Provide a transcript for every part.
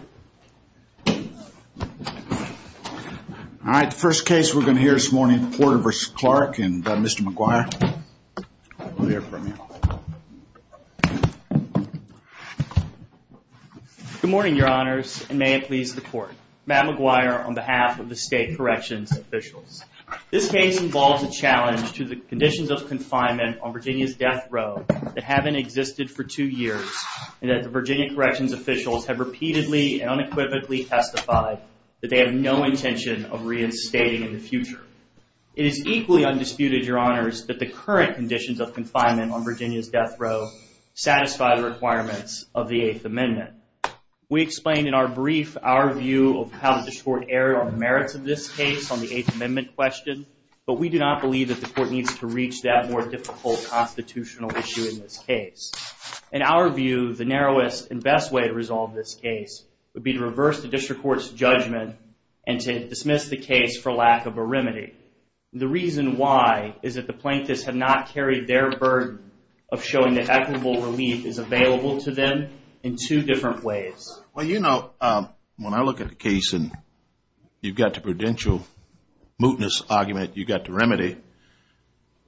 All right, the first case we're going to hear this morning is Porter v. Clarke and Mr. McGuire will hear from you. Good morning, your honors, and may it please the court. Matt McGuire on behalf of the state corrections officials. This case involves a challenge to the conditions of confinement on Virginia's death row that haven't existed for two years and that the Virginia corrections officials have repeatedly and unequivocally testified that they have no intention of reinstating in the future. It is equally undisputed, your honors, that the current conditions of confinement on Virginia's death row satisfy the requirements of the Eighth Amendment. We explained in our brief our view of how the court erred on the merits of this case on the Eighth Amendment question, but we do not believe that the court needs to reach that more difficult constitutional issue in this case. In our view, the narrowest and best way to resolve this case would be to reverse the district court's judgment and to dismiss the case for lack of a remedy. The reason why is that the plaintiffs have not carried their burden of showing that equitable relief is available to them in two different ways. Well, you know, when I look at the case and you've got the prudential mootness argument, you've got the remedy.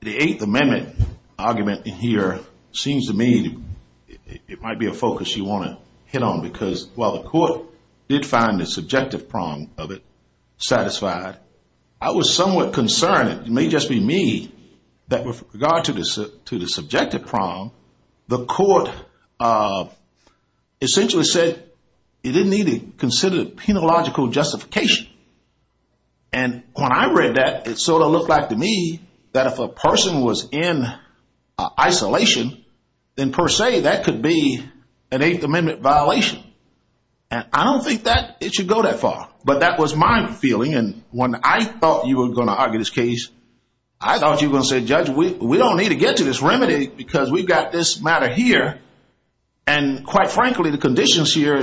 The Eighth Amendment argument in here seems to me it might be a focus you want to hit on, because while the court did find the subjective prong of it satisfied, I was somewhat concerned, it may just be me, that with regard to the subjective prong, the court essentially said it didn't need to consider the penological justification. And when I read that, it sort of looked like to me that if a person was in isolation, then per se, that could be an Eighth Amendment violation. And I don't think that it should go that far, but that was my feeling. And when I thought you were going to argue this case, I thought you were going to say, Judge, we don't need to get to this remedy because we've got this matter here. And quite frankly, the conditions here,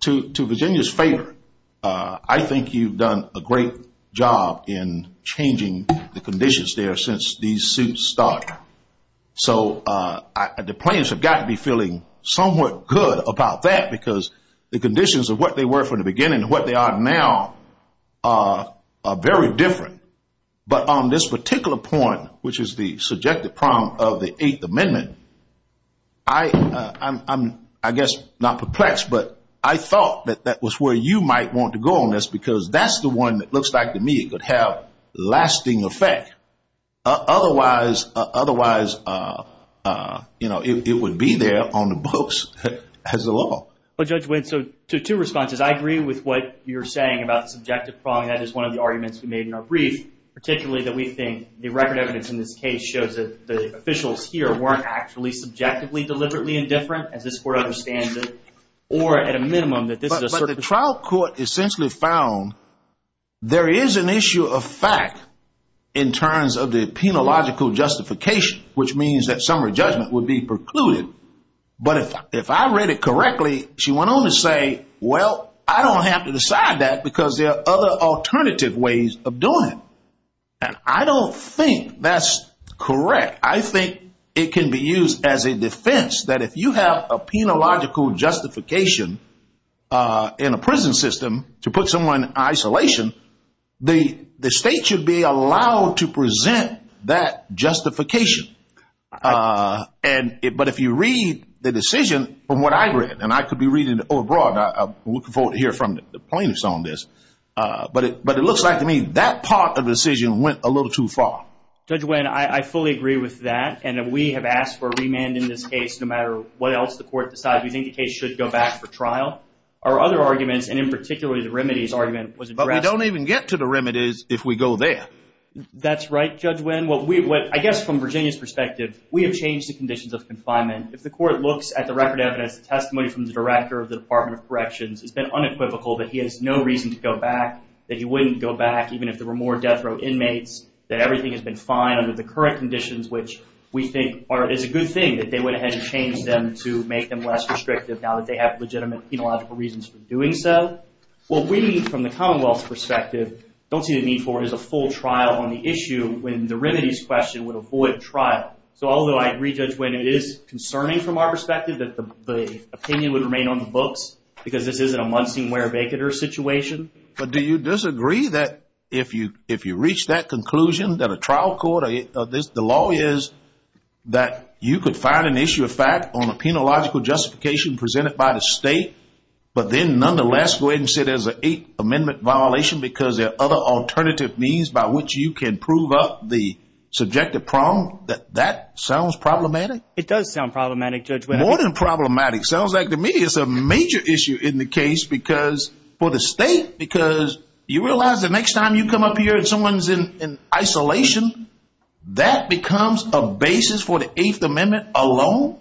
to Virginia's favor, I think you've done a great job in changing the conditions there since these suits started. So the plaintiffs have got to be feeling somewhat good about that, because the conditions of what they were from the beginning and what they are now are very different. But on this particular point, which is the subjective prong of the Eighth Amendment, I'm, I guess, not perplexed, but I thought that that was where you might want to go on this because that's the one that looks like to me could have lasting effect. Otherwise, otherwise, you know, it would be there on the books as a law. Well, Judge, so two responses. I agree with what you're saying about the subjective prong. That is one of the arguments we made in our brief, particularly that we think the record evidence in this case shows that the officials here weren't actually subjectively deliberately indifferent, as this Court understands it, or at a minimum that this is a certain. But the trial court essentially found there is an issue of fact in terms of the penological justification, which means that summary judgment would be precluded. But if I read it correctly, she went on to say, well, I don't have to decide that because there are other alternative ways of doing it. And I don't think that's correct. I think it can be used as a defense that if you have a penological justification in a prison system to put someone in isolation, the state should be allowed to present that justification. But if you read the decision from what I read, and I could be reading it overbroad. I'm looking forward to hearing from the plaintiffs on this. But it looks like to me that part of the decision went a little too far. Judge Wynn, I fully agree with that. And we have asked for a remand in this case no matter what else the Court decides. We think the case should go back for trial. Our other arguments, and in particular the remedies argument, was addressed. But we don't even get to the remedies if we go there. That's right, Judge Wynn. I guess from Virginia's perspective, we have changed the conditions of confinement. If the Court looks at the record evidence, the testimony from the Director of the Department of Corrections, it's been unequivocal that he has no reason to go back. That he wouldn't go back even if there were more death row inmates. That everything has been fine under the current conditions, which we think is a good thing that they went ahead and changed them to make them less restrictive now that they have legitimate penological reasons for doing so. What we need from the Commonwealth's perspective, don't see the need for is a full trial on the issue when the remedies question would avoid trial. So although I agree, Judge Wynn, it is concerning from our perspective that the opinion would remain on the books because this isn't a Muncie-Werribecheter situation. But do you disagree that if you reach that conclusion that a trial court, the law is that you could find an issue of fact on a penological justification presented by the State, but then nonetheless go ahead and say there's an Eighth Amendment violation because there are other alternative means by which you can prove up the subjective problem? That that sounds problematic? It does sound problematic, Judge Wynn. More than problematic. Sounds like to me it's a major issue in the case because for the State, because you realize the next time you come up here and someone's in isolation, that becomes a basis for the Eighth Amendment alone?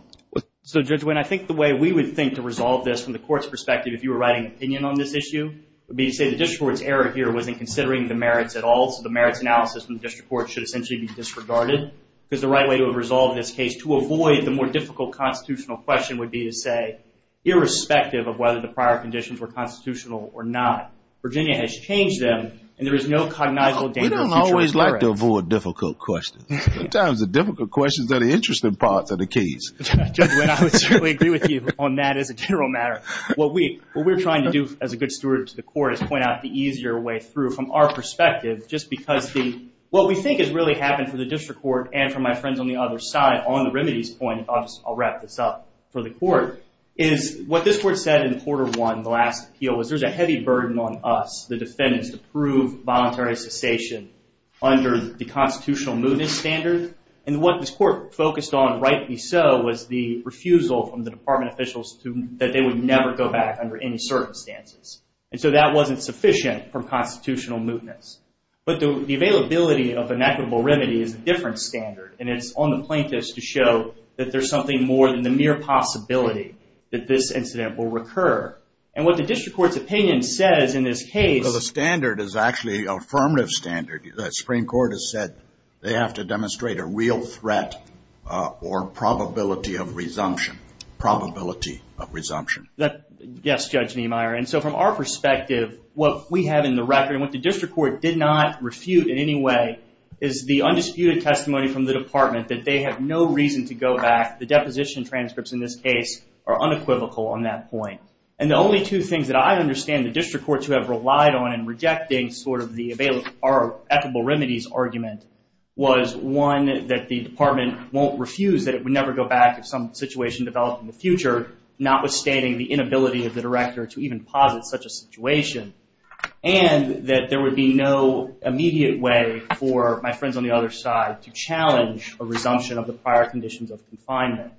So, Judge Wynn, I think the way we would think to resolve this from the court's perspective if you were writing an opinion on this issue would be to say the district court's error here wasn't considering the merits at all. So the merits analysis from the district court should essentially be disregarded because the right way to resolve this case to avoid the more difficult constitutional question would be to say, irrespective of whether the prior conditions were constitutional or not, Virginia has changed them and there is no cognizable danger of future recurrence. We don't always like to avoid difficult questions. Sometimes the difficult questions are the interesting parts of the case. Judge Wynn, I would certainly agree with you on that as a general matter. What we're trying to do as a good steward to the court is point out the easier way through from our perspective just because what we think has really happened for the district court and for my friends on the other side on the remedies point, I'll wrap this up for the court, is what this court said in quarter one, the last appeal, was there's a heavy burden on us, the defendants, to prove voluntary cessation under the constitutional mootness standard. And what this court focused on, rightly so, was the refusal from the department officials that they would never go back under any circumstances. And so that wasn't sufficient from constitutional mootness. But the availability of an equitable remedy is a different standard and it's on the plaintiffs to show that there's something more than the mere possibility that this incident will recur. And what the district court's opinion says in this case... Well, the standard is actually an affirmative standard. The Supreme Court has said they have to demonstrate a real threat or probability of resumption. Probability of resumption. Yes, Judge Niemeyer. And so from our perspective, what we have in the record and what the district court did not refute in any way is the undisputed testimony from the department that they have no reason to go back. The deposition transcripts in this case are unequivocal on that point. And the only two things that I understand the district court to have relied on in rejecting sort of the available or equitable remedies argument was, one, that the department won't refuse that it would never go back if some situation developed in the future, notwithstanding the inability of the director to even posit such a situation. And that there would be no immediate way for my friends on the other side to challenge a resumption of the prior conditions of confinement.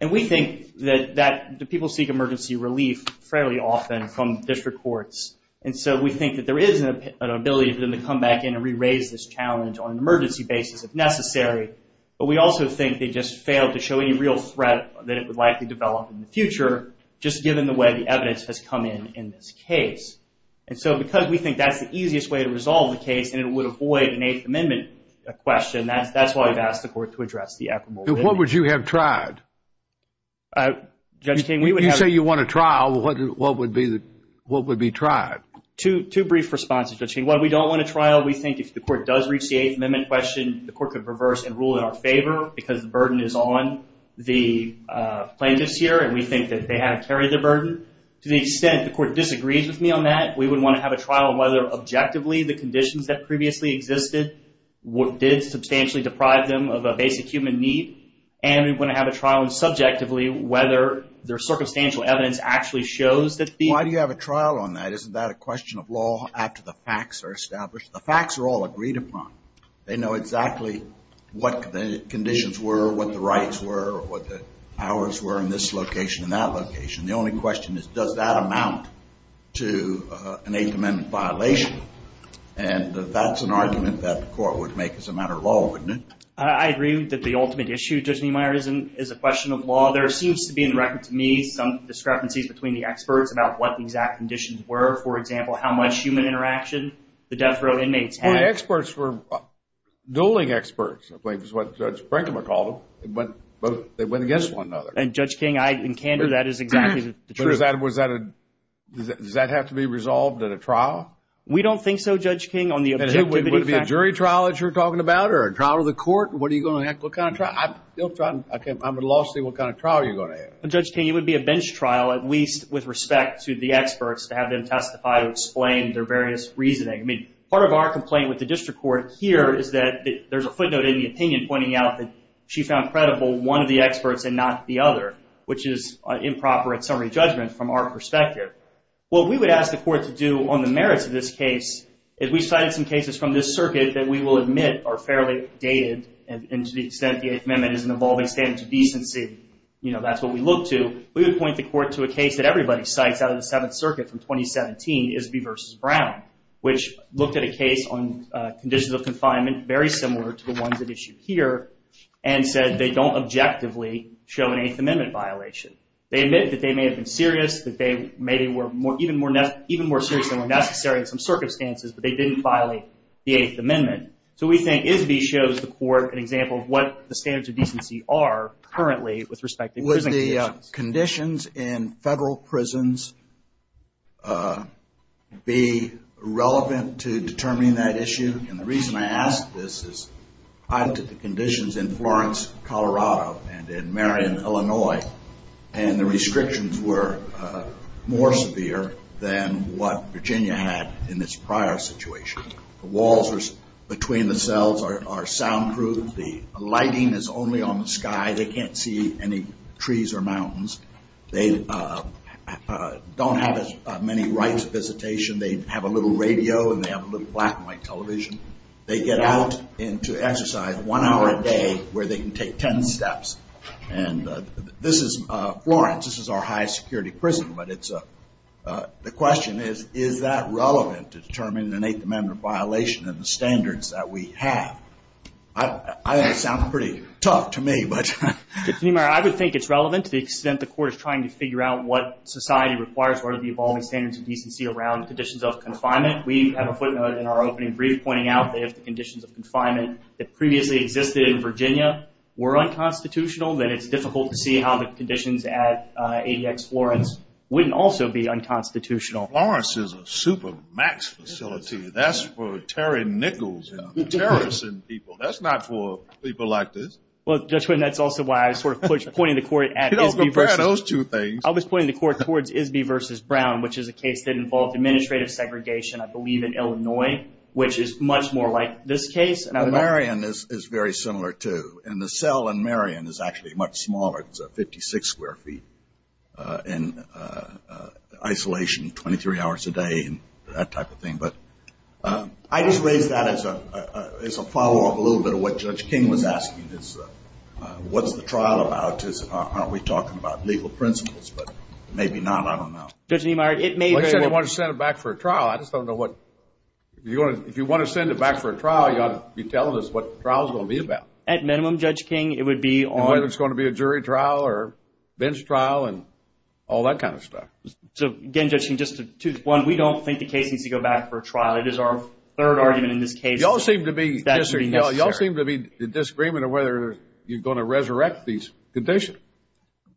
And we think that people seek emergency relief fairly often from district courts. And so we think that there is an ability for them to come back in and re-raise this challenge on an emergency basis if necessary. But we also think they just failed to show any real threat that it would likely develop in the future, just given the way the evidence has come in in this case. And so because we think that's the easiest way to resolve the case and it would avoid an Eighth Amendment question, that's why I've asked the court to address the equitable remedy. And what would you have tried? Judge King, we would have... You say you want a trial. What would be tried? Two brief responses, Judge King. One, we don't want a trial. We think if the court does reach the Eighth Amendment question, the court could reverse and rule in our favor because the burden is on the plaintiffs here and we think that they have carried the burden. To the extent the court disagrees with me on that, we would want to have a trial on whether objectively the conditions that previously existed did substantially deprive them of a basic human need, and we would want to have a trial on subjectively whether their circumstantial evidence actually shows that the... Why do you have a trial on that? Isn't that a question of law after the facts are established? The facts are all agreed upon. They know exactly what the conditions were, what the rights were, what the powers were in this location and that location. The only question is, does that amount to an Eighth Amendment violation? And that's an argument that the court would make as a matter of law, wouldn't it? I agree that the ultimate issue, Judge Niemeyer, is a question of law. There seems to be in the record to me some discrepancies between the experts about what the exact conditions were. For example, how much human interaction the death row inmates had. Well, the experts were dueling experts, I believe is what Judge Brinkman called them. They went against one another. And, Judge King, in candor, that is exactly the truth. Does that have to be resolved at a trial? We don't think so, Judge King, on the objectivity factor. Would it be a jury trial that you're talking about or a trial of the court? What are you going to have? What kind of trial? I'm at a loss to see what kind of trial you're going to have. Judge King, it would be a bench trial, at least with respect to the experts to have them testify and explain their various reasoning. I mean, part of our complaint with the district court here is that there's a footnote in the opinion pointing out that she found credible one of the experts and not the other, which is improper in summary judgment from our perspective. What we would ask the court to do on the merits of this case is we cited some cases from this circuit that we will admit are fairly dated and to the extent the Eighth Amendment is an evolving standard to decency, you know, that's what we look to. We would point the court to a case that everybody cites out of the Seventh Circuit from 2017, Isbey v. Brown, which looked at a case on conditions of confinement very similar to the ones at issue here and said they don't objectively show an Eighth Amendment violation. They admit that they may have been serious, that they maybe were even more serious than were necessary in some circumstances, but they didn't violate the Eighth Amendment. So we think Isbey shows the court an example of what the standards of decency are currently with respect to prison conditions. Would the conditions in federal prisons be relevant to determining that issue? And the reason I ask this is I looked at the conditions in Florence, Colorado, and in Marion, Illinois, and the restrictions were more severe than what Virginia had in this prior situation. The walls between the cells are soundproof. The lighting is only on the sky. They can't see any trees or mountains. They don't have as many rights of visitation. They have a little radio and they have a little black and white television. They get out to exercise one hour a day where they can take ten steps. And this is Florence. This is our highest security prison, but the question is, is that relevant to determining an Eighth Amendment violation and the standards that we have? I know it sounds pretty tough to me, but. I would think it's relevant to the extent the court is trying to figure out what society requires for the evolving standards of decency around conditions of confinement. We have a footnote in our opening brief pointing out that if the conditions of confinement that previously existed in Virginia were unconstitutional, then it's difficult to see how the conditions at ADX Florence wouldn't also be unconstitutional. Florence is a super max facility. That's for Terry Nichols and terrorists and people. That's not for people like this. Well, Judge Wyden, that's also why I was sort of pointing the court at ISB versus. You don't compare those two things. I was pointing the court towards ISB versus Brown, which is a case that involved administrative segregation, I believe, in Illinois, which is much more like this case. Marion is very similar, too. And the cell in Marion is actually much smaller. It's 56 square feet in isolation, 23 hours a day and that type of thing. But I just raised that as a follow-up a little bit of what Judge King was asking, is what's the trial about? I guess it's aren't we talking about legal principles, but maybe not. I don't know. Judge Niemeyer, it may be. Well, he said he wanted to send it back for a trial. I just don't know what. If you want to send it back for a trial, you ought to be telling us what the trial is going to be about. At minimum, Judge King, it would be on. Whether it's going to be a jury trial or bench trial and all that kind of stuff. So, again, Judge King, just one, we don't think the case needs to go back for a trial. It is our third argument in this case. You all seem to be disagreeing. I don't know whether you're going to resurrect these conditions.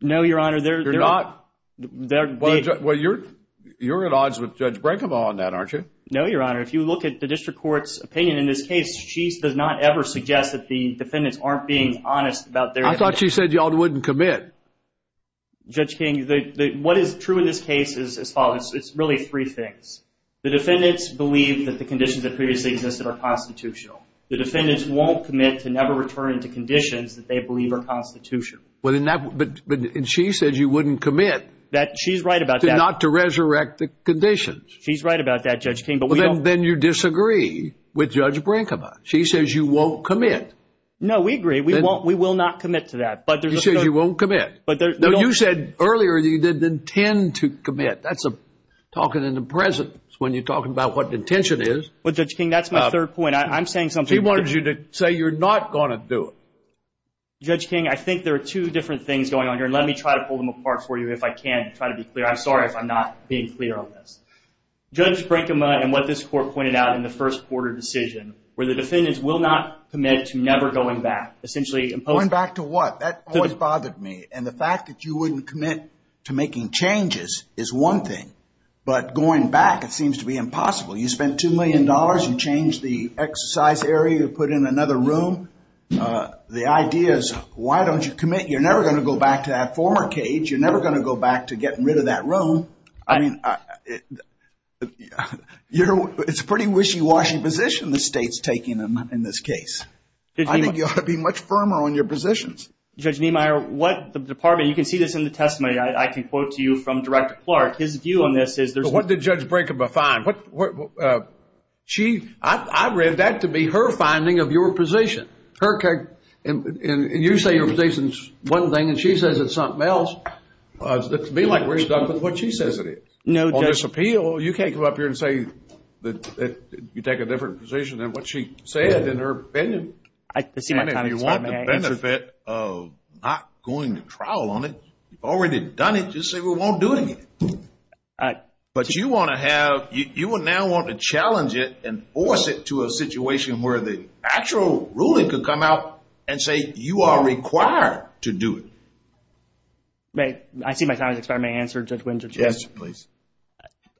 No, Your Honor. You're not? Well, you're at odds with Judge Brenkema on that, aren't you? No, Your Honor. If you look at the district court's opinion in this case, she does not ever suggest that the defendants aren't being honest about their. I thought she said you all wouldn't commit. Judge King, what is true in this case is as follows. It's really three things. The defendants believe that the conditions that previously existed are constitutional. The defendants won't commit to never returning to conditions that they believe are constitutional. But she says you wouldn't commit. She's right about that. Not to resurrect the conditions. She's right about that, Judge King. Then you disagree with Judge Brenkema. She says you won't commit. No, we agree. We will not commit to that. She says you won't commit. You said earlier that you didn't intend to commit. That's talking in the presence when you're talking about what the intention is. Well, Judge King, that's my third point. I'm saying something different. She wanted you to say you're not going to do it. Judge King, I think there are two different things going on here, and let me try to pull them apart for you if I can to try to be clear. I'm sorry if I'm not being clear on this. Judge Brenkema, in what this court pointed out in the first quarter decision, where the defendants will not commit to never going back, essentially imposing. Going back to what? That always bothered me. And the fact that you wouldn't commit to making changes is one thing. But going back, it seems to be impossible. You spent $2 million. You changed the exercise area. You put in another room. The idea is why don't you commit? You're never going to go back to that former cage. You're never going to go back to getting rid of that room. I mean, it's a pretty wishy-washy position the state's taking in this case. I think you ought to be much firmer on your positions. Judge Niemeyer, what the department – you can see this in the testimony. I can quote to you from Director Clark. His view on this is there's – But what did Judge Brenkema find? She – I read that to be her finding of your position. Her – and you say your position's one thing, and she says it's something else. It's to me like we're stuck with what she says it is. No, Judge. On this appeal, you can't come up here and say that you take a different position than what she said in her opinion. And if you want the benefit of not going to trial on it, you've already done it, just say we won't do it again. But you want to have – you would now want to challenge it and force it to a situation where the actual ruling could come out and say you are required to do it. I see my time has expired. May I answer, Judge Winters? Yes, please.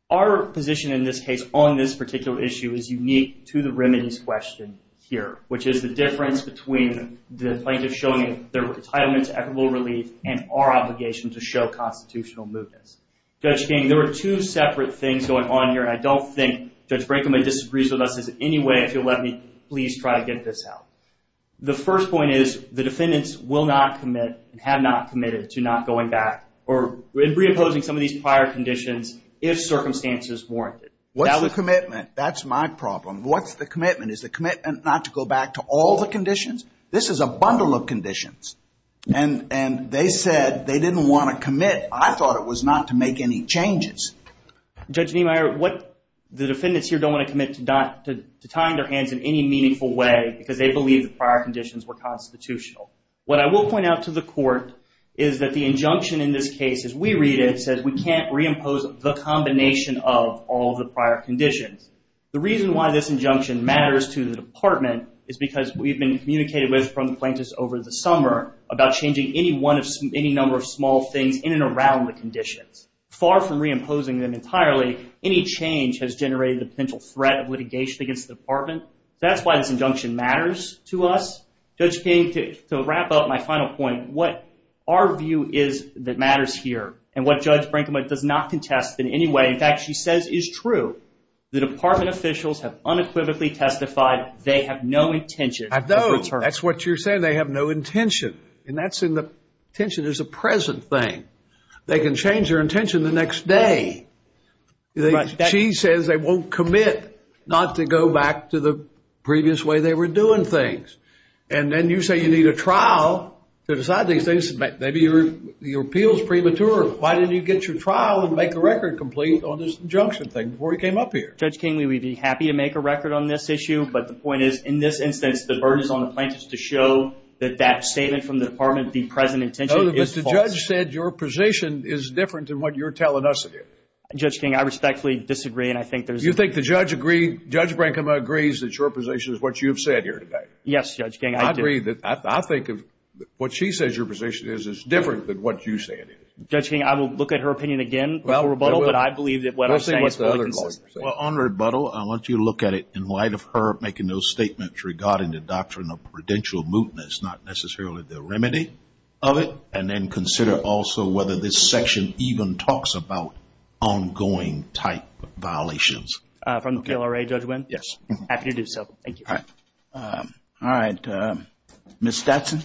Our position in this case on this particular issue is unique to the remedies question here, which is the difference between the plaintiff showing their entitlement to equitable relief and our obligation to show constitutional mootness. Judge King, there are two separate things going on here, and I don't think Judge Brinkman disagrees with us in any way. If you'll let me please try to get this out. The first point is the defendants will not commit and have not committed to not going back or reimposing some of these prior conditions if circumstances warrant it. What's the commitment? That's my problem. What's the commitment? Is the commitment not to go back to all the conditions? This is a bundle of conditions. And they said they didn't want to commit. I thought it was not to make any changes. Judge Niemeyer, the defendants here don't want to commit to tying their hands in any meaningful way because they believe the prior conditions were constitutional. What I will point out to the court is that the injunction in this case, as we read it, says we can't reimpose the combination of all the prior conditions. The reason why this injunction matters to the department is because we've been communicated with from the plaintiffs over the summer about changing any number of small things in and around the conditions. Far from reimposing them entirely, any change has generated a potential threat of litigation against the department. That's why this injunction matters to us. Judge King, to wrap up my final point, what our view is that matters here and what Judge Brinkman does not contest in any way, in fact, she says is true. The department officials have unequivocally testified they have no intention of return. I don't. That's what you're saying, they have no intention. And that's in the, intention is a present thing. They can change their intention the next day. She says they won't commit not to go back to the previous way they were doing things. And then you say you need a trial to decide these things. Maybe your appeal is premature. Why didn't you get your trial and make a record complete on this injunction thing before you came up here? Judge King, we would be happy to make a record on this issue, but the point is, in this instance, the burden is on the plaintiffs to show that that statement from the department, the present intention, is false. No, but the judge said your position is different than what you're telling us it is. Judge King, I respectfully disagree, and I think there's a… You think the judge agrees, Judge Brinkman agrees, that your position is what you've said here today? Yes, Judge King, I do. I agree that, I think, what she says your position is is different than what you say it is. Judge King, I will look at her opinion again before rebuttal, but I believe that what I'm saying is fully consistent. Well, on rebuttal, I want you to look at it in light of her making those statements regarding the doctrine of prudential mootness, not necessarily the remedy of it, and then consider also whether this section even talks about ongoing type violations. From the PLRA, Judge Winn? Yes. Happy to do so. Thank you. All right. Ms. Stetson?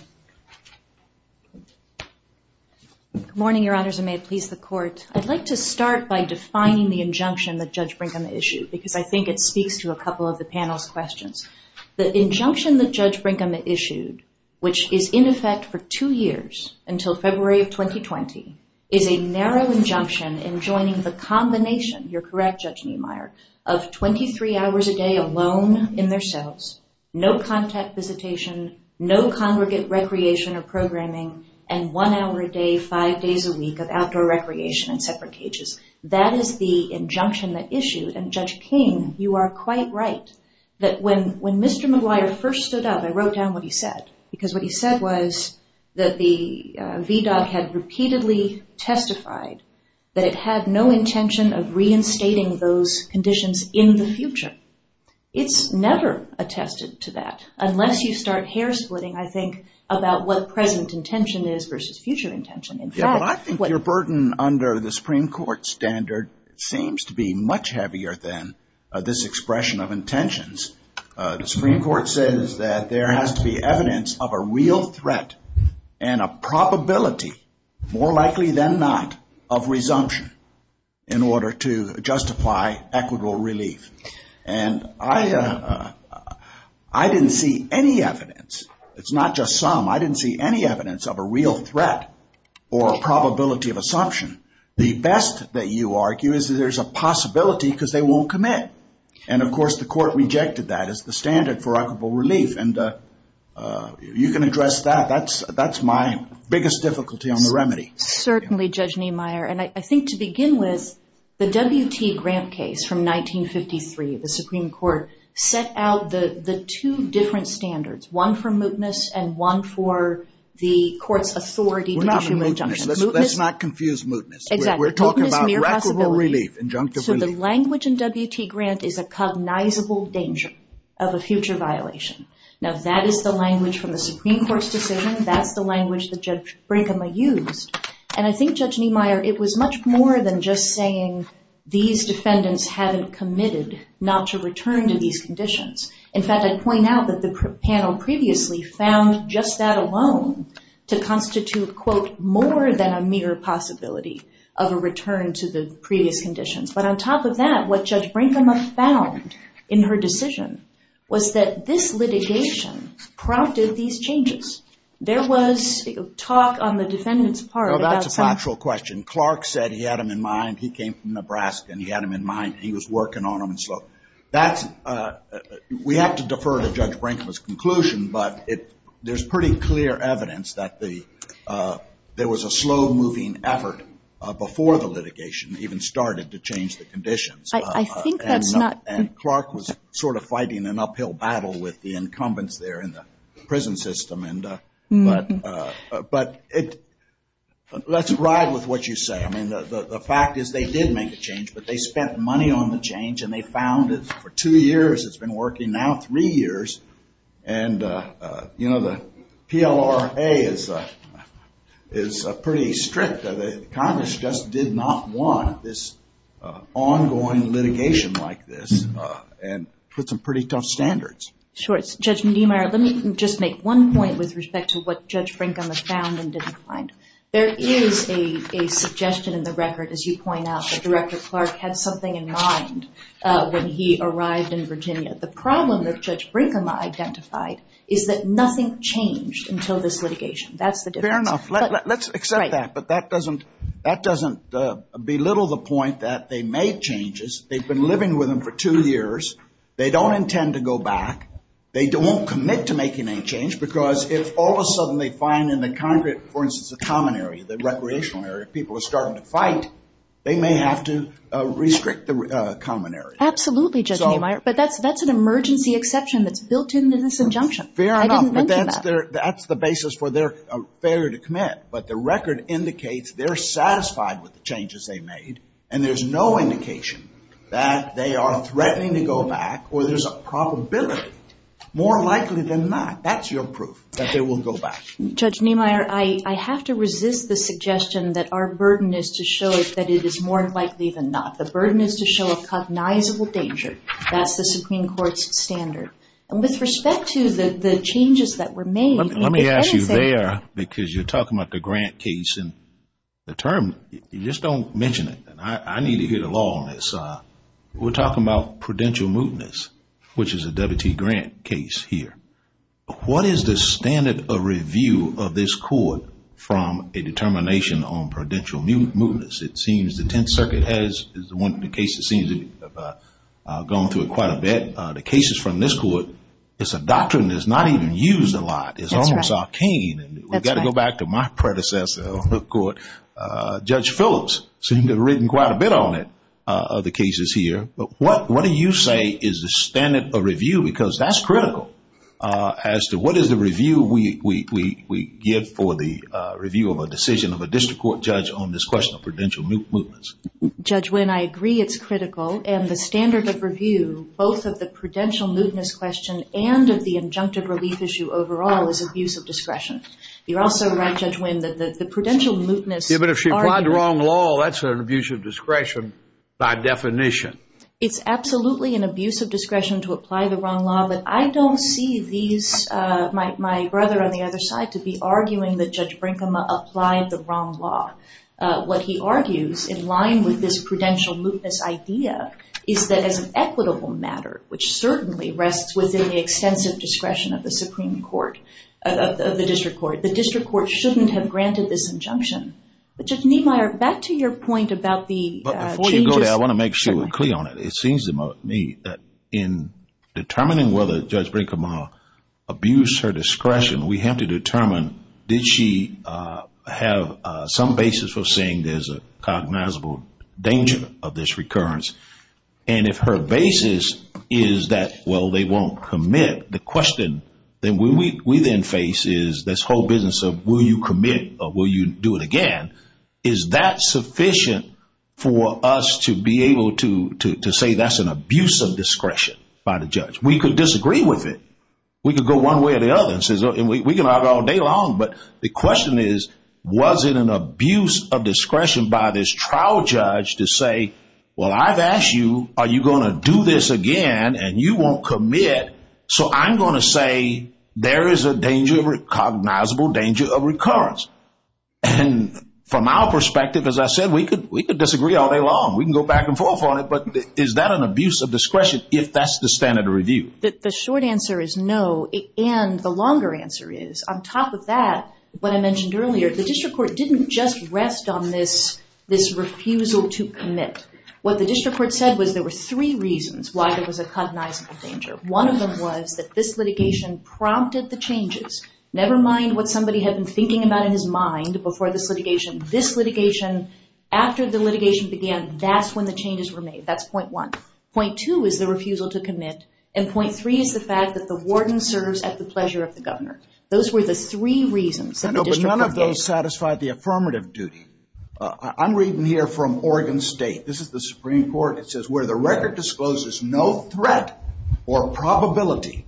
Good morning, Your Honors, and may it please the Court. I'd like to start by defining the injunction that Judge Brinkman issued, because I think it speaks to a couple of the panel's questions. The injunction that Judge Brinkman issued, which is in effect for two years until February of 2020, is a narrow injunction enjoining the combination, you're correct, Judge Niemeyer, of 23 hours a day alone in their cells, no contact visitation, no congregate recreation or programming, and one hour a day, five days a week of outdoor recreation in separate cages. That is the injunction that issued, and Judge King, you are quite right, that when Mr. McGuire first stood up, I wrote down what he said, because what he said was that the VDOT had repeatedly testified that it had no intention of reinstating those conditions in the future. It's never attested to that, unless you start hair-splitting, I think, about what present intention is versus future intention. Yeah, but I think your burden under the Supreme Court standard seems to be much heavier than this expression of intentions. The Supreme Court says that there has to be evidence of a real threat and a probability, more likely than not, of resumption in order to justify equitable relief. And I didn't see any evidence. It's not just some. I didn't see any evidence of a real threat or a probability of assumption. The best that you argue is that there's a possibility because they won't commit. And, of course, the Court rejected that as the standard for equitable relief, and you can address that. That's my biggest difficulty on the remedy. Certainly, Judge Niemeyer. And I think to begin with, the W.T. Grant case from 1953, the Supreme Court set out the two different standards, one for mootness and one for the Court's authority to issue an injunction. Let's not confuse mootness. We're talking about equitable relief, injunctive relief. So the language in W.T. Grant is a cognizable danger of a future violation. Now, that is the language from the Supreme Court's decision. That's the language that Judge Brigham used. And I think, Judge Niemeyer, it was much more than just saying these defendants haven't committed not to return to these conditions. In fact, I'd point out that the panel previously found just that alone to constitute, quote, more than a mere possibility of a return to the previous conditions. But on top of that, what Judge Brinkema found in her decision was that this litigation prompted these changes. There was talk on the defendants' part about some- No, that's a factual question. Clark said he had them in mind. He came from Nebraska and he had them in mind. He was working on them. So that's- we have to defer to Judge Brinkema's conclusion, but there's pretty clear evidence that there was a slow-moving effort before the litigation even started to change the conditions. I think that's not- And Clark was sort of fighting an uphill battle with the incumbents there in the prison system. But let's ride with what you say. I mean, the fact is they did make a change, but they spent money on the change and they found it for two years. It's been working now three years. And, you know, the PLRA is pretty strict. Congress just did not want this ongoing litigation like this and put some pretty tough standards. Sure. Judge Medemire, let me just make one point with respect to what Judge Brinkema found and didn't find. There is a suggestion in the record, as you point out, that Director Clark had something in mind when he arrived in Virginia. The problem that Judge Brinkema identified is that nothing changed until this litigation. That's the difference. Fair enough. Let's accept that. But that doesn't belittle the point that they made changes. They've been living with them for two years. They don't intend to go back. They don't commit to making any change because if all of a sudden they find in the Congress, for instance, the common area, the recreational area, people are starting to fight, they may have to restrict the common area. Absolutely, Judge Medemire. But that's an emergency exception that's built into this injunction. Fair enough. I didn't mention that. But that's the basis for their failure to commit. But the record indicates they're satisfied with the changes they made and there's no indication that they are threatening to go back or there's a probability, more likely than not, that's your proof that they will go back. Judge Medemire, I have to resist the suggestion that our burden is to show that it is more likely than not. The burden is to show a cognizable danger. That's the Supreme Court's standard. And with respect to the changes that were made. Let me ask you there because you're talking about the Grant case and the term, you just don't mention it. I need to hear the law on this. We're talking about prudential mootness, which is a W.T. Grant case here. What is the standard of review of this court from a determination on prudential mootness? It seems the Tenth Circuit is one of the cases that seems to have gone through it quite a bit. The cases from this court, it's a doctrine that's not even used a lot. It's almost arcane. We've got to go back to my predecessor on the court. Judge Phillips seemed to have written quite a bit on it, other cases here. But what do you say is the standard of review? Because that's critical as to what is the review we give for the review of a decision of a district court judge on this question of prudential mootness. Judge Winn, I agree it's critical. And the standard of review, both of the prudential mootness question and of the injunctive relief issue overall, is abuse of discretion. You're also right, Judge Winn, that the prudential mootness argument Even if she applied the wrong law, that's an abuse of discretion by definition. It's absolutely an abuse of discretion to apply the wrong law, but I don't see these, my brother on the other side, to be arguing that Judge Brinkema applied the wrong law. What he argues in line with this prudential mootness idea is that as an extensive discretion of the Supreme Court, of the district court, the district court shouldn't have granted this injunction. But Judge Niemeyer, back to your point about the changes. Before you go there, I want to make sure we're clear on it. It seems to me that in determining whether Judge Brinkema abused her discretion, we have to determine did she have some basis for saying there's a cognizable danger of this recurrence. And if her basis is that, well, they won't commit, the question we then face is this whole business of will you commit or will you do it again. Is that sufficient for us to be able to say that's an abuse of discretion by the judge? We could disagree with it. We could go one way or the other and say we can argue all day long, but the question is was it an abuse of discretion by this trial judge to say, well, I've asked you, are you going to do this again and you won't commit, so I'm going to say there is a danger, a cognizable danger of recurrence. And from our perspective, as I said, we could disagree all day long. We can go back and forth on it, but is that an abuse of discretion if that's the standard of review? The short answer is no, and the longer answer is on top of that, what I mentioned earlier, the district court didn't just rest on this refusal to commit. What the district court said was there were three reasons why there was a cognizable danger. One of them was that this litigation prompted the changes. Never mind what somebody had been thinking about in his mind before this litigation. This litigation, after the litigation began, that's when the changes were made. That's point one. Point two is the refusal to commit, Those were the three reasons that the district court gave. But none of those satisfied the affirmative duty. I'm reading here from Oregon State. This is the Supreme Court. It says, where the record discloses no threat or probability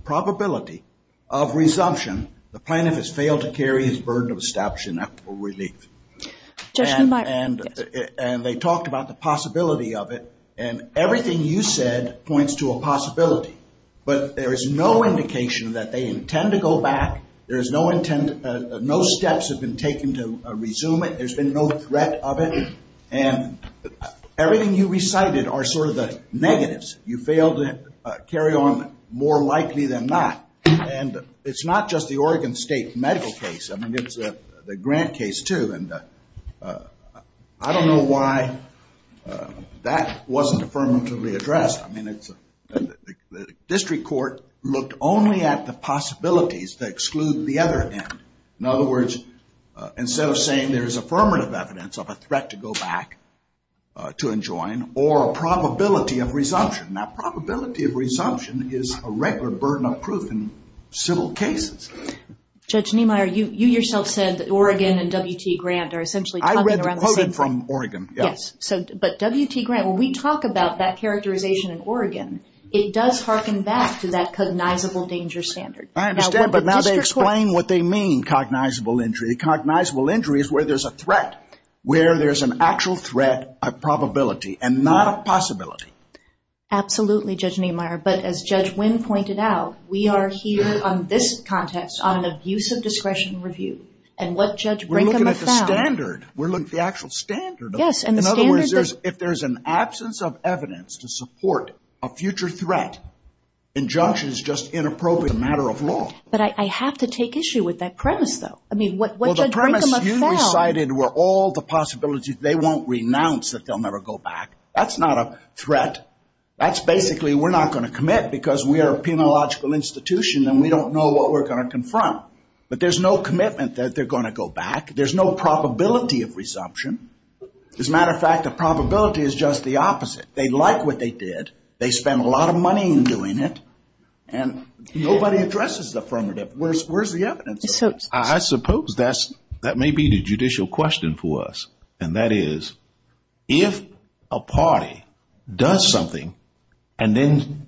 of resumption, the plaintiff has failed to carry his burden of establishment or relief. And they talked about the possibility of it, and everything you said points to a possibility, but there is no indication that they intend to go back. No steps have been taken to resume it. There's been no threat of it. And everything you recited are sort of the negatives. You failed to carry on more likely than not. And it's not just the Oregon State medical case. I mean, it's the Grant case, too. And I don't know why that wasn't affirmatively addressed. The district court looked only at the possibilities that exclude the other end. In other words, instead of saying there's affirmative evidence of a threat to go back, to enjoin, or a probability of resumption. Now, probability of resumption is a regular burden of proof in civil cases. Judge Niemeyer, you yourself said that Oregon and W.T. Grant are essentially talking around the same thing. I read the quote from Oregon, yes. But W.T. Grant, when we talk about that characterization in Oregon, it does harken back to that cognizable danger standard. I understand. But now they explain what they mean, cognizable injury. Cognizable injury is where there's a threat, where there's an actual threat of probability and not a possibility. Absolutely, Judge Niemeyer. But as Judge Winn pointed out, we are here on this context on an abuse of discretion review. And what Judge Brinkham has found. We're looking at the standard. We're looking at the actual standard. Yes, and the standard. In other words, if there's an absence of evidence to support a future threat, injunction is just inappropriate as a matter of law. But I have to take issue with that premise, though. I mean, what Judge Brinkham has found. Well, the premise you recited were all the possibilities. They won't renounce that they'll never go back. That's not a threat. That's basically we're not going to commit because we are a penological institution and we don't know what we're going to confront. But there's no commitment that they're going to go back. There's no probability of resumption. As a matter of fact, the probability is just the opposite. They like what they did. They spent a lot of money in doing it. And nobody addresses the affirmative. Where's the evidence? I suppose that may be the judicial question for us. And that is, if a party does something and then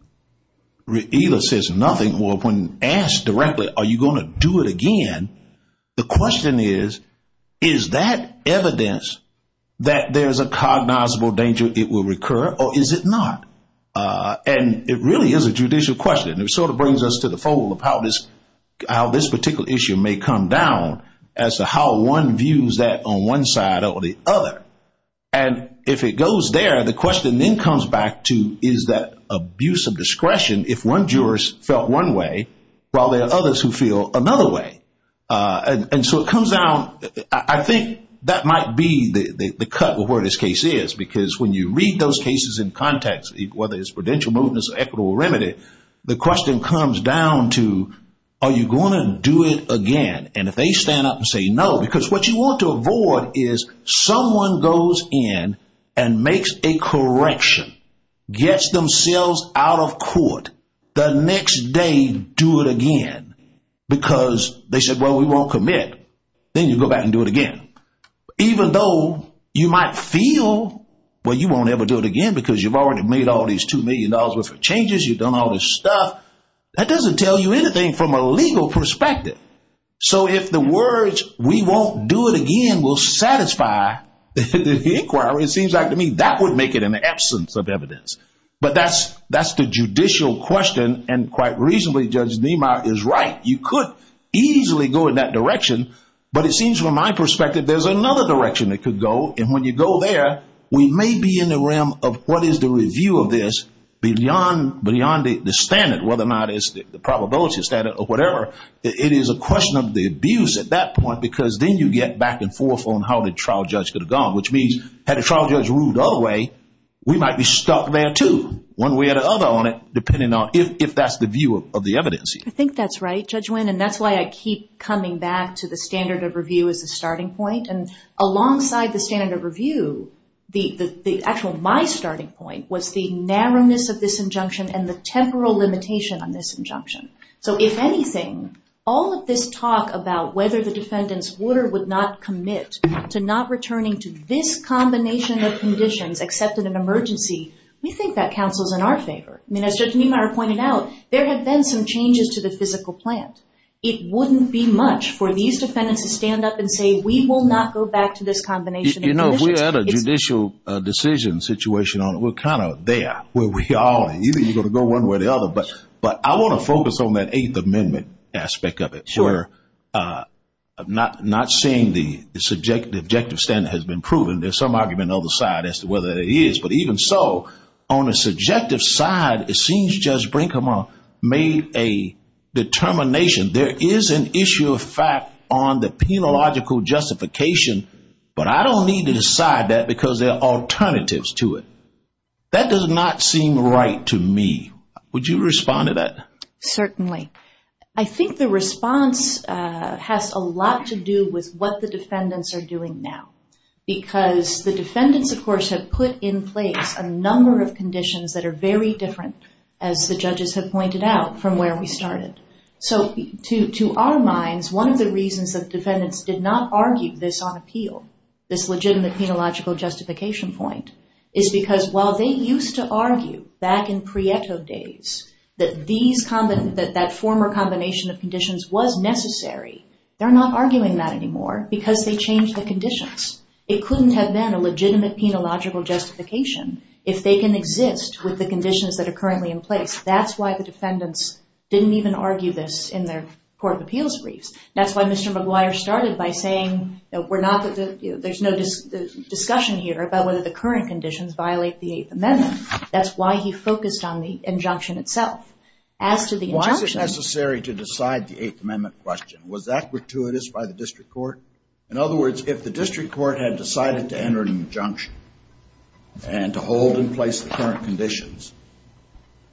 either says nothing or when asked directly, are you going to do it again, the question is, is that evidence that there's a cognizable danger it will recur or is it not? And it really is a judicial question. It sort of brings us to the fold of how this particular issue may come down as to how one views that on one side or the other. And if it goes there, the question then comes back to is that abuse of one way while there are others who feel another way. And so it comes down, I think that might be the cut with where this case is because when you read those cases in context, whether it's prudential movement or equitable remedy, the question comes down to, are you going to do it again? And if they stand up and say no, because what you want to avoid is someone goes in and makes a correction, gets themselves out of court, the next day do it again because they said, well, we won't commit. Then you go back and do it again. Even though you might feel, well, you won't ever do it again because you've already made all these $2 million worth of changes, you've done all this stuff, that doesn't tell you anything from a legal perspective. So if the words we won't do it again will satisfy the inquiry, it seems like to me that would make it an absence of evidence. But that's the judicial question, and quite reasonably Judge Niemeyer is right. You could easily go in that direction. But it seems from my perspective there's another direction it could go. And when you go there, we may be in the realm of what is the review of this beyond the standard, whether or not it's the probability standard or whatever. It is a question of the abuse at that point because then you get back and forth on how the trial judge could have gone, which means had the trial judge ruled the other way, we might be stuck there too, one way or the other on it, depending on if that's the view of the evidence. I think that's right, Judge Wynn, and that's why I keep coming back to the standard of review as a starting point. And alongside the standard of review, the actual my starting point was the narrowness of this injunction and the temporal limitation on this injunction. So if anything, all of this talk about whether the defendants would or would not commit to not returning to this combination of conditions except in an emergency, we think that counsels in our favor. I mean, as Judge Niemeyer pointed out, there have been some changes to the physical plant. It wouldn't be much for these defendants to stand up and say, we will not go back to this combination of conditions. You know, if we had a judicial decision situation on it, we're kind of there where we are, and either you're going to go one way or the other. But I want to focus on that Eighth Amendment aspect of it, where I'm not seeing the objective standard has been proven. There's some argument on the side as to whether it is. But even so, on the subjective side, it seems Judge Brinkman made a determination. There is an issue of fact on the penological justification, but I don't need to decide that because there are alternatives to it. That does not seem right to me. Would you respond to that? Certainly. I think the response has a lot to do with what the defendants are doing now because the defendants, of course, have put in place a number of conditions that are very different, as the judges have pointed out, from where we started. So to our minds, one of the reasons that defendants did not argue this on appeal, this legitimate penological justification point, is because while they used to argue back in Prieto days that that former combination of conditions was necessary, they're not arguing that anymore because they changed the conditions. It couldn't have been a legitimate penological justification if they can exist with the conditions that are currently in place. That's why the defendants didn't even argue this in their court of appeals briefs. That's why Mr. McGuire started by saying there's no discussion here about whether the current conditions violate the Eighth Amendment. That's why he focused on the injunction itself. Was it necessary to decide the Eighth Amendment question? Was that gratuitous by the district court? In other words, if the district court had decided to enter an injunction and to hold in place the current conditions,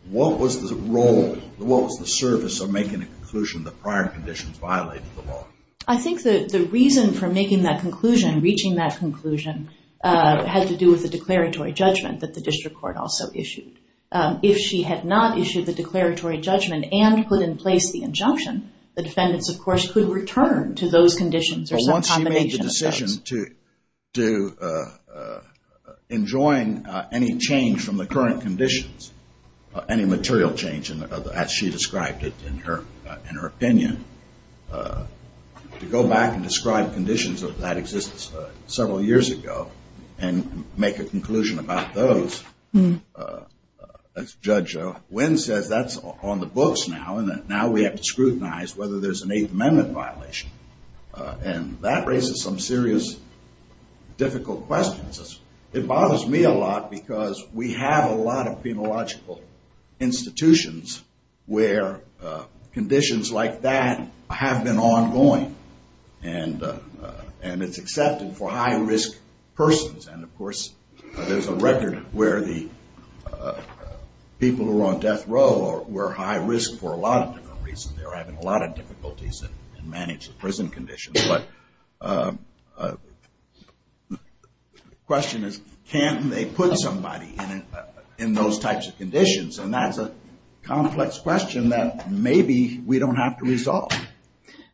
what was the role, what was the service of making a conclusion that prior conditions violated the law? I think the reason for making that conclusion, reaching that conclusion, had to do with the declaratory judgment that the district court also issued. If she had not issued the declaratory judgment and put in place the injunction, the defendants, of course, could return to those conditions or some combination of those. The question to enjoin any change from the current conditions, any material change as she described it in her opinion, to go back and describe conditions that existed several years ago and make a conclusion about those, as Judge Wynn says, that's on the books now and now we have to scrutinize whether there's an Eighth Amendment violation. And that raises some serious difficult questions. It bothers me a lot because we have a lot of penological institutions where conditions like that have been ongoing and it's accepted for high-risk persons. And, of course, there's a record where the people who are on death row were high risk for a lot of different reasons. They were having a lot of difficulties in managing prison conditions. But the question is, can they put somebody in those types of conditions? And that's a complex question that maybe we don't have to resolve.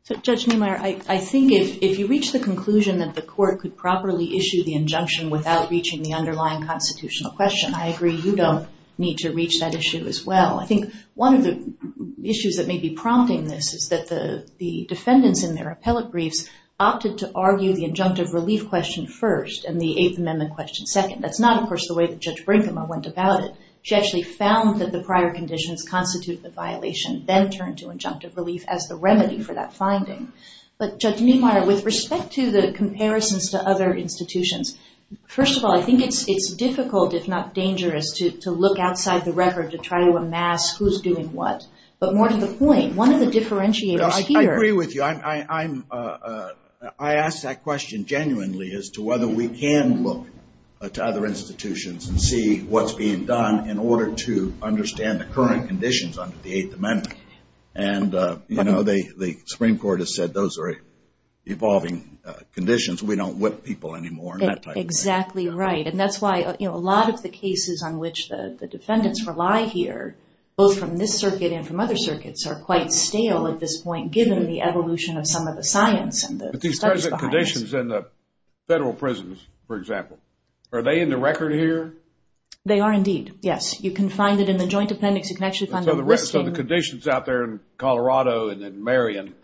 So, Judge Niemeyer, I think if you reach the conclusion that the court could properly issue the injunction without reaching the underlying constitutional question, I agree you don't need to reach that issue as well. I think one of the issues that may be prompting this is that the defendants in their appellate briefs opted to argue the injunctive relief question first and the Eighth Amendment question second. That's not, of course, the way that Judge Brinkema went about it. She actually found that the prior conditions constituted the violation, then turned to injunctive relief as the remedy for that finding. But, Judge Niemeyer, with respect to the comparisons to other institutions, first of all, I think it's difficult, if not dangerous, to look outside the record to try to amass who's doing what. But more to the point, one of the differentiators here... I agree with you. I ask that question genuinely as to whether we can look to other institutions and see what's being done in order to understand the current conditions under the Eighth Amendment. And the Supreme Court has said those are evolving conditions. We don't whip people anymore in that type of thing. Exactly right. And that's why a lot of the cases on which the defendants rely here, both from this circuit and from other circuits, are quite stale at this point, given the evolution of some of the science and the studies behind this. But these present conditions in the federal prisons, for example, are they in the record here? They are indeed, yes. You can find it in the Joint Appendix. You can actually find the listing. So the conditions out there in Colorado and in Marion...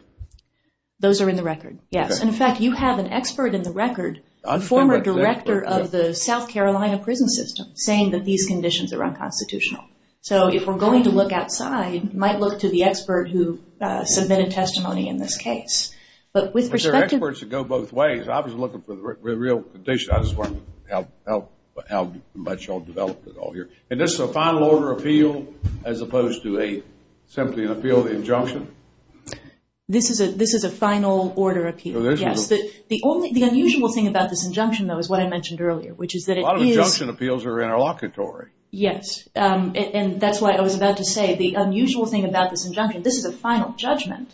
Those are in the record, yes. And, in fact, you have an expert in the record, a former director of the South Carolina prison system, saying that these conditions are unconstitutional. So if we're going to look outside, you might look to the expert who submitted testimony in this case. But with respect to... But there are experts that go both ways. I was looking for the real conditions. I just wanted to know how much you all developed it all here. And this is a final order of appeal as opposed to simply an appeal injunction? This is a final order of appeal, yes. The unusual thing about this injunction, though, is what I mentioned earlier, which is that it is... A lot of injunction appeals are interlocutory. Yes, and that's why I was about to say the unusual thing about this injunction. This is a final judgment,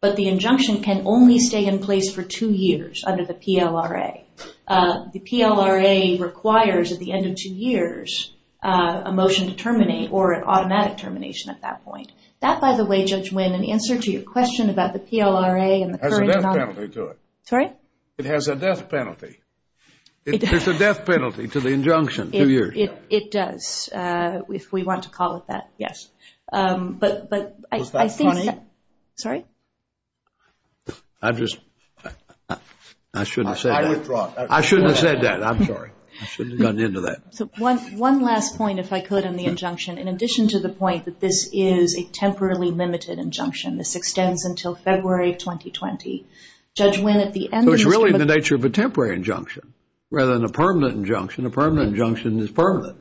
but the injunction can only stay in place for two years under the PLRA. The PLRA requires, at the end of two years, a motion to terminate or an automatic termination at that point. That, by the way, Judge Wynn, in answer to your question about the PLRA and the current... It has a death penalty to it. Sorry? It has a death penalty. There's a death penalty to the injunction, two years. It does, if we want to call it that, yes. But I think... Was that funny? Sorry? I just... I shouldn't have said that. I withdraw. I shouldn't have said that. I'm sorry. I shouldn't have gotten into that. One last point, if I could, on the injunction. In addition to the point that this is a temporarily limited injunction, this extends until February of 2020, Judge Wynn, at the end... So it's really the nature of a temporary injunction, rather than a permanent injunction. A permanent injunction is permanent.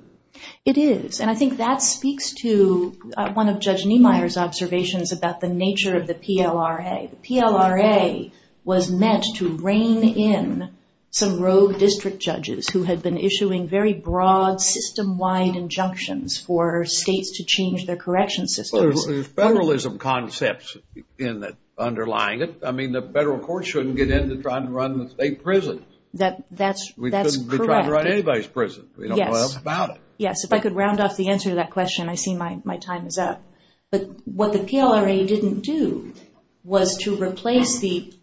It is, and I think that speaks to one of Judge Niemeyer's observations about the nature of the PLRA. The PLRA was meant to rein in some rogue district judges who had been issuing very broad, system-wide injunctions for states to change their correction systems. Well, there's federalism concepts underlying it. I mean, the federal court shouldn't get in to try to run the state prison. That's correct. We shouldn't be trying to run anybody's prison. We don't know enough about it. Yes. If I could round off the answer to that question, I see my time is up. But what the PLRA didn't do was to replace the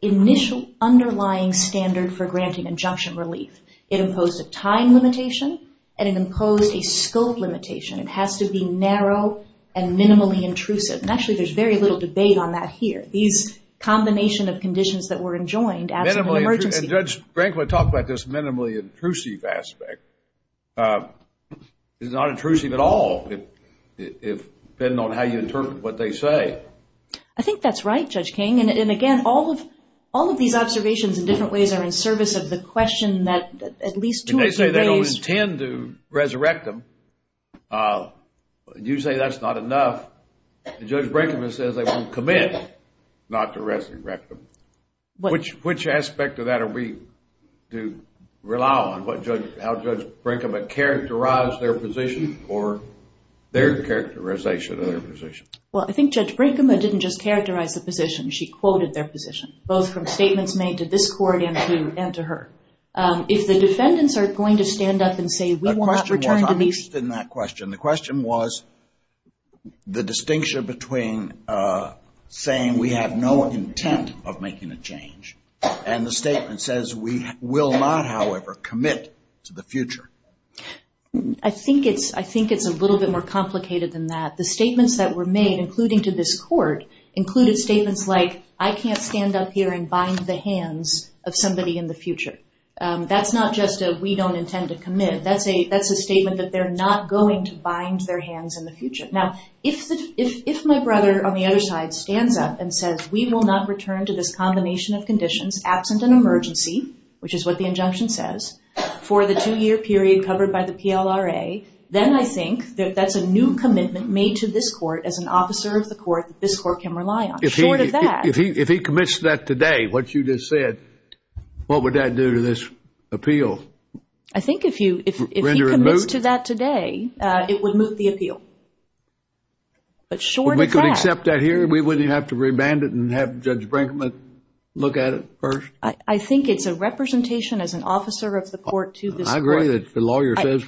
initial underlying standard for granting injunction relief. It imposed a time limitation, and it imposed a scope limitation. It has to be narrow and minimally intrusive. And actually, there's very little debate on that here. These combination of conditions that were enjoined as an emergency. And Judge Brinkman talked about this minimally intrusive aspect. It's not intrusive at all, depending on how you interpret what they say. I think that's right, Judge King. And again, all of these observations in different ways are in service of the question that at least two or three raised. They don't intend to resurrect them. You say that's not enough. Judge Brinkman says they won't commit not to resurrect them. Which aspect of that are we to rely on? How does Judge Brinkman characterize their position or their characterization of their position? Well, I think Judge Brinkman didn't just characterize the position. She quoted their position, both from statements made to this court and to her. If the defendants are going to stand up and say we will not return to these. The question was, I'm interested in that question. The question was the distinction between saying we have no intent of making a change. And the statement says we will not, however, commit to the future. I think it's a little bit more complicated than that. The statements that were made, including to this court, included statements like, I can't stand up here and bind the hands of somebody in the future. That's not just a we don't intend to commit. That's a statement that they're not going to bind their hands in the future. Now, if my brother on the other side stands up and says we will not return to this combination of conditions, absent an emergency, which is what the injunction says, for the two-year period covered by the PLRA, then I think that that's a new commitment made to this court as an officer of the court that this court can rely on. Short of that. If he commits to that today, what you just said, what would that do to this appeal? I think if he commits to that today, it would move the appeal. But short of that. We could accept that here? We wouldn't have to remand it and have Judge Brinkman look at it first? I think it's a representation as an officer of the court to this court. I agree that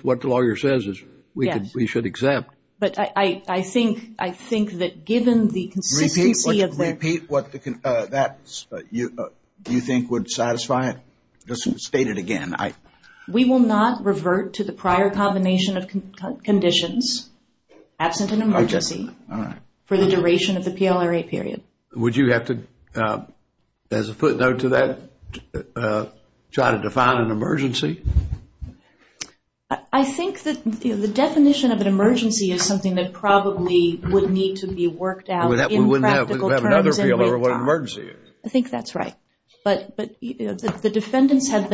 what the lawyer says we should accept. But I think that given the consistency of the Repeat what you think would satisfy it? Just state it again. We will not revert to the prior combination of conditions, absent an emergency, for the duration of the PLRA period. Would you have to, as a footnote to that, try to define an emergency? I think that the definition of an emergency is something that probably would need to be worked out in practical terms. We wouldn't have another appeal over what an emergency is. I think that's right. But the defendants have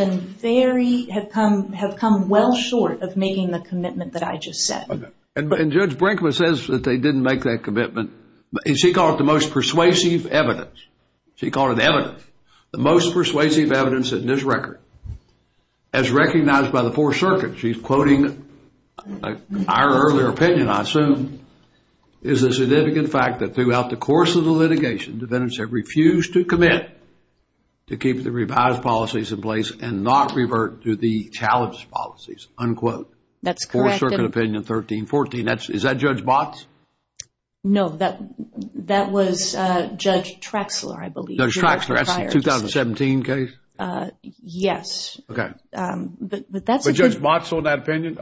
come well short of making the commitment that I just said. And Judge Brinkman says that they didn't make that commitment. She called it the most persuasive evidence. She called it evidence. The most persuasive evidence in this record, as recognized by the Fourth Circuit, she's quoting our earlier opinion, I assume, is the significant fact that throughout the course of the litigation, defendants have refused to commit to keep the revised policies in place and not revert to the challenged policies, unquote. That's correct. Fourth Circuit opinion 1314. Is that Judge Botts? No, that was Judge Traxler, I believe. Judge Traxler, that's the 2017 case? Yes. Okay. But that's a good point. But Judge Botts was on that opinion?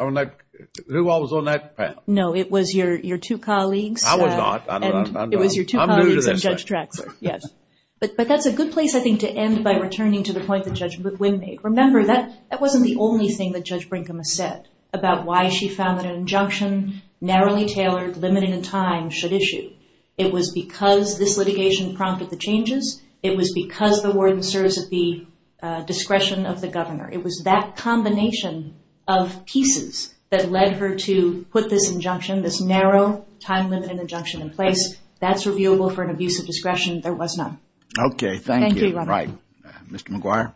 Who else was on that panel? No, it was your two colleagues. I was not. It was your two colleagues and Judge Traxler, yes. But that's a good place, I think, to end by returning to the point that Judge McGuinn made. Remember, that wasn't the only thing that Judge Brinkman said about why she found that an injunction, narrowly tailored, limited in time, should issue. It was because this litigation prompted the changes. It was because the warden serves at the discretion of the governor. It was that combination of pieces that led her to put this injunction, this narrow, time-limited injunction in place. That's reviewable for an abuse of discretion. There was none. Okay. Thank you. Thank you. Right. Mr. McGuire?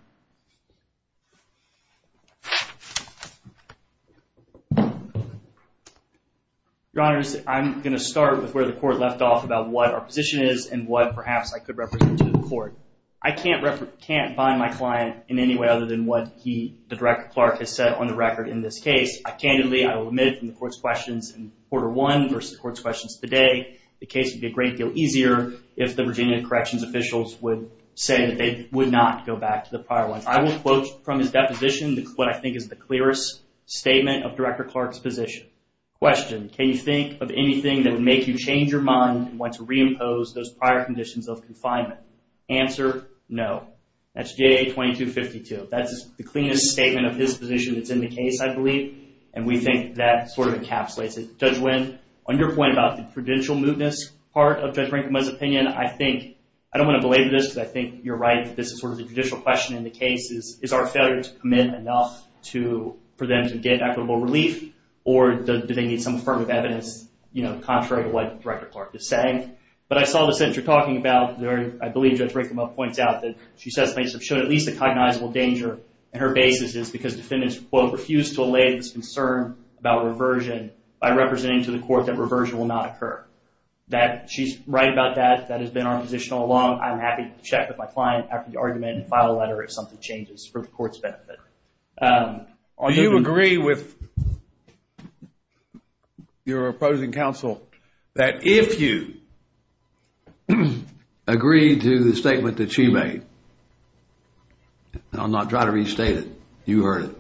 Your Honor, I'm going to start with where the court left off about what our position is and what, perhaps, I could represent to the court. I can't bind my client in any way other than what the Director Clark has said on the record in this case. I candidly, I will admit from the court's questions in quarter one versus the court's questions today, the case would be a great deal easier if the Virginia Corrections officials would say that they would not go back to the prior one. I will quote from his deposition what I think is the clearest statement of Director Clark's position. Question, can you think of anything that would make you change your mind and want to reimpose those prior conditions of confinement? Answer, no. That's J.A. 2252. That's the cleanest statement of his position that's in the case, I believe, and we think that sort of encapsulates it. Judge Wynn, on your point about the prudential mootness part of Judge Rankin-Mudd's opinion, I don't want to belabor this because I think you're right. This is sort of the judicial question in the case. Is our failure to commit enough for them to get equitable relief, or do they need some affirmative evidence contrary to what Director Clark is saying? But I saw the sentence you're talking about. I believe Judge Rankin-Mudd points out that she says plaintiffs have shown at least a cognizable danger, and her basis is because defendants, quote, refused to allay this concern about reversion by representing to the court that reversion will not occur. She's right about that. That has been our position all along. I'm happy to check with my client after the argument and file a letter if something changes for the court's benefit. Do you agree with your opposing counsel that if you agreed to the statement that she made, and I'll not try to restate it, you heard it,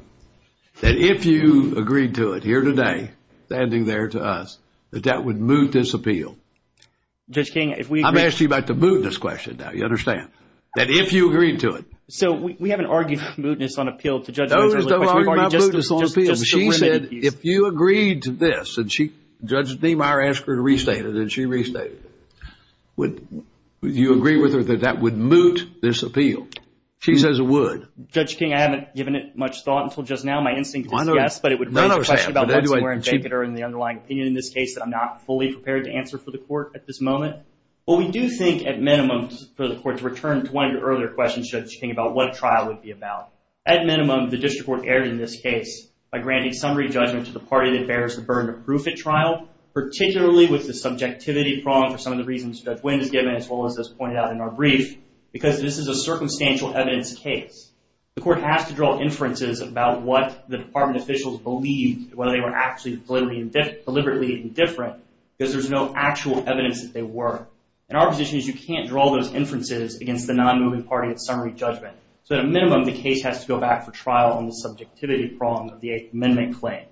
that if you agreed to it here today, standing there to us, that that would moot this appeal? I'm asking you about the mootness question now. You understand? That if you agreed to it. So we haven't argued mootness on appeal to Judge Rankin-Mudd. No, we haven't argued mootness on appeal. She said if you agreed to this, and Judge Demeyer asked her to restate it, and she restated it. Would you agree with her that that would moot this appeal? She says it would. Judge King, I haven't given it much thought until just now. My instinct is yes, but it would raise a question about what's more in the underlying opinion in this case that I'm not fully prepared to answer for the court at this moment. But we do think, at minimum, for the court to return to one of your earlier questions, Judge King, about what a trial would be about. At minimum, the district court erred in this case by granting summary judgment to the party that bears the burden of proof at trial, particularly with the subjectivity prong for some of the reasons Judge Wind has given, as well as is pointed out in our brief, because this is a circumstantial evidence case. The court has to draw inferences about what the department officials believe, whether they were actually deliberately indifferent, because there's no actual evidence that they were. And our position is you can't draw those inferences against the non-moving party at summary judgment. So at a minimum, the case has to go back for trial on the subjectivity prong of the 8th Amendment claim.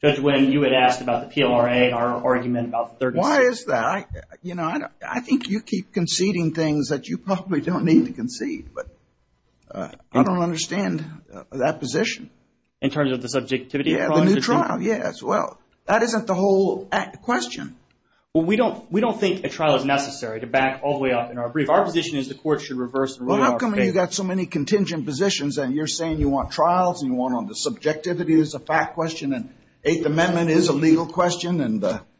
Judge Wind, you had asked about the PLRA in our argument about the 36th. Why is that? You know, I think you keep conceding things that you probably don't need to concede. But I don't understand that position. In terms of the subjectivity prong? Yeah, the new trial. Yeah, as well. That isn't the whole question. Well, we don't think a trial is necessary to back all the way up in our brief. Our position is the court should reverse the rule of our case. Well, how come you've got so many contingent positions and you're saying you want trials and you want the subjectivity as a fact question and the 8th Amendment is a legal question?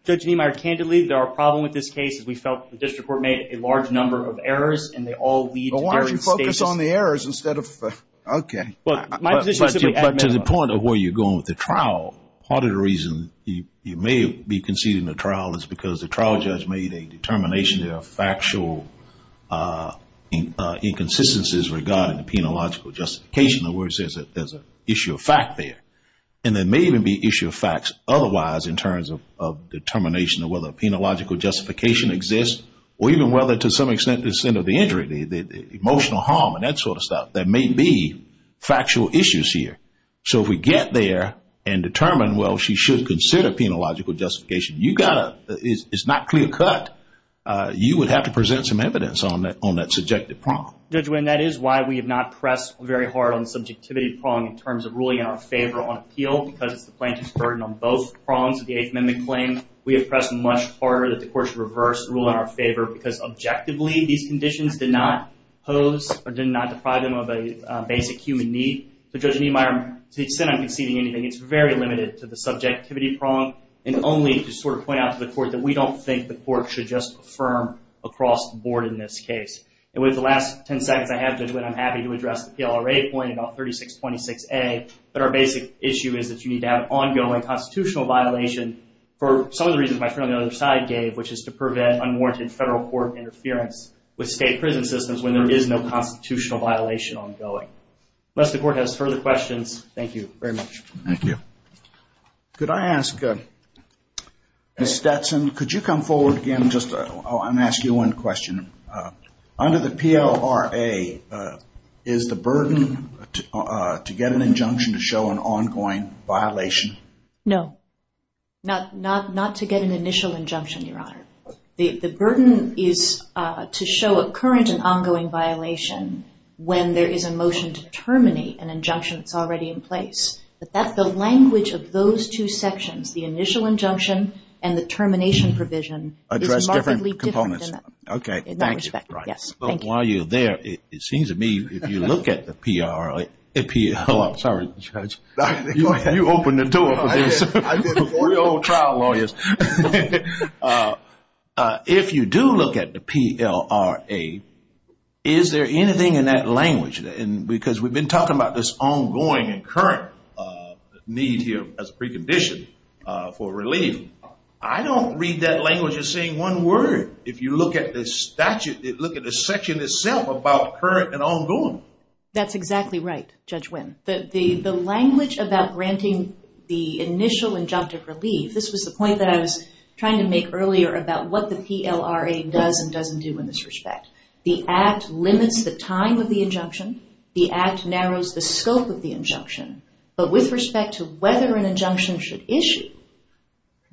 Judge Niemeyer, candidly, there are problems with this case. We felt the district court made a large number of errors and they all lead to various statements. Well, why don't you focus on the errors instead of, okay. But to the point of where you're going with the trial, part of the reason you may be conceding the trial is because the trial judge made a determination there are factual inconsistencies regarding the penological justification of where it says that there's an issue of fact there. And there may even be issue of facts otherwise in terms of determination of whether a penological justification exists or even whether to some extent the center of the injury, the emotional harm and that sort of stuff. There may be factual issues here. So if we get there and determine, well, she should consider penological justification, you've got to, it's not clear cut. You would have to present some evidence on that subjective prong. Judge Winn, that is why we have not pressed very hard on subjectivity prong in terms of ruling in our favor on appeal because it's the plaintiff's burden on both prongs of the Eighth Amendment claim. We have pressed much harder that the court should reverse the rule in our favor because objectively these conditions did not pose or did not deprive them of a basic human need. So Judge Niemeyer, to the extent I'm conceding anything, it's very limited to the subjectivity prong and only to sort of point out to the court that we don't think the court should just affirm across the board in this case. And with the last 10 seconds I have, Judge Winn, I'm happy to address the PLRA point about 3626A. But our basic issue is that you need to have ongoing constitutional violation for some of the reasons my friend on the other side gave, which is to prevent unwarranted federal court interference with state prison systems when there is no constitutional violation ongoing. Unless the court has further questions, thank you very much. Thank you. Could I ask Ms. Stetson, could you come forward again? I'm going to ask you one question. Under the PLRA, is the burden to get an injunction to show an ongoing violation? No. Not to get an initial injunction, Your Honor. The burden is to show a current and ongoing violation when there is a motion to terminate an injunction that's already in place. But that's the language of those two sections, the initial injunction and the termination provision is markedly different than that. Address different components. Okay. In that respect, yes. Thank you. While you're there, it seems to me if you look at the PLRA, I'm sorry, Judge, you opened the door for this. I did before. We're old trial lawyers. If you do look at the PLRA, is there anything in that language? Because we've been talking about this ongoing and current need here as a precondition for relief. I don't read that language as saying one word. If you look at the statute, look at the section itself about current and ongoing. That's exactly right, Judge Wynn. The language about granting the initial injunctive relief, this was the point that I was trying to make earlier about what the PLRA does and doesn't do in this respect. The Act limits the time of the injunction. The Act narrows the scope of the injunction. But with respect to whether an injunction should issue,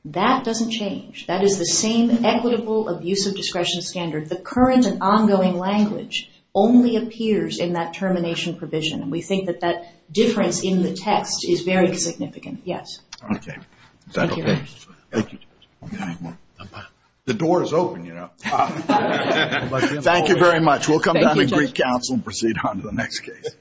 that doesn't change. That is the same equitable abuse of discretion standard. The current and ongoing language only appears in that termination provision, and we think that that difference in the text is very significant. Yes. Okay. Is that okay? Thank you, Judge. The door is open, you know. Thank you very much. We'll come down to Greek Council and proceed on to the next case.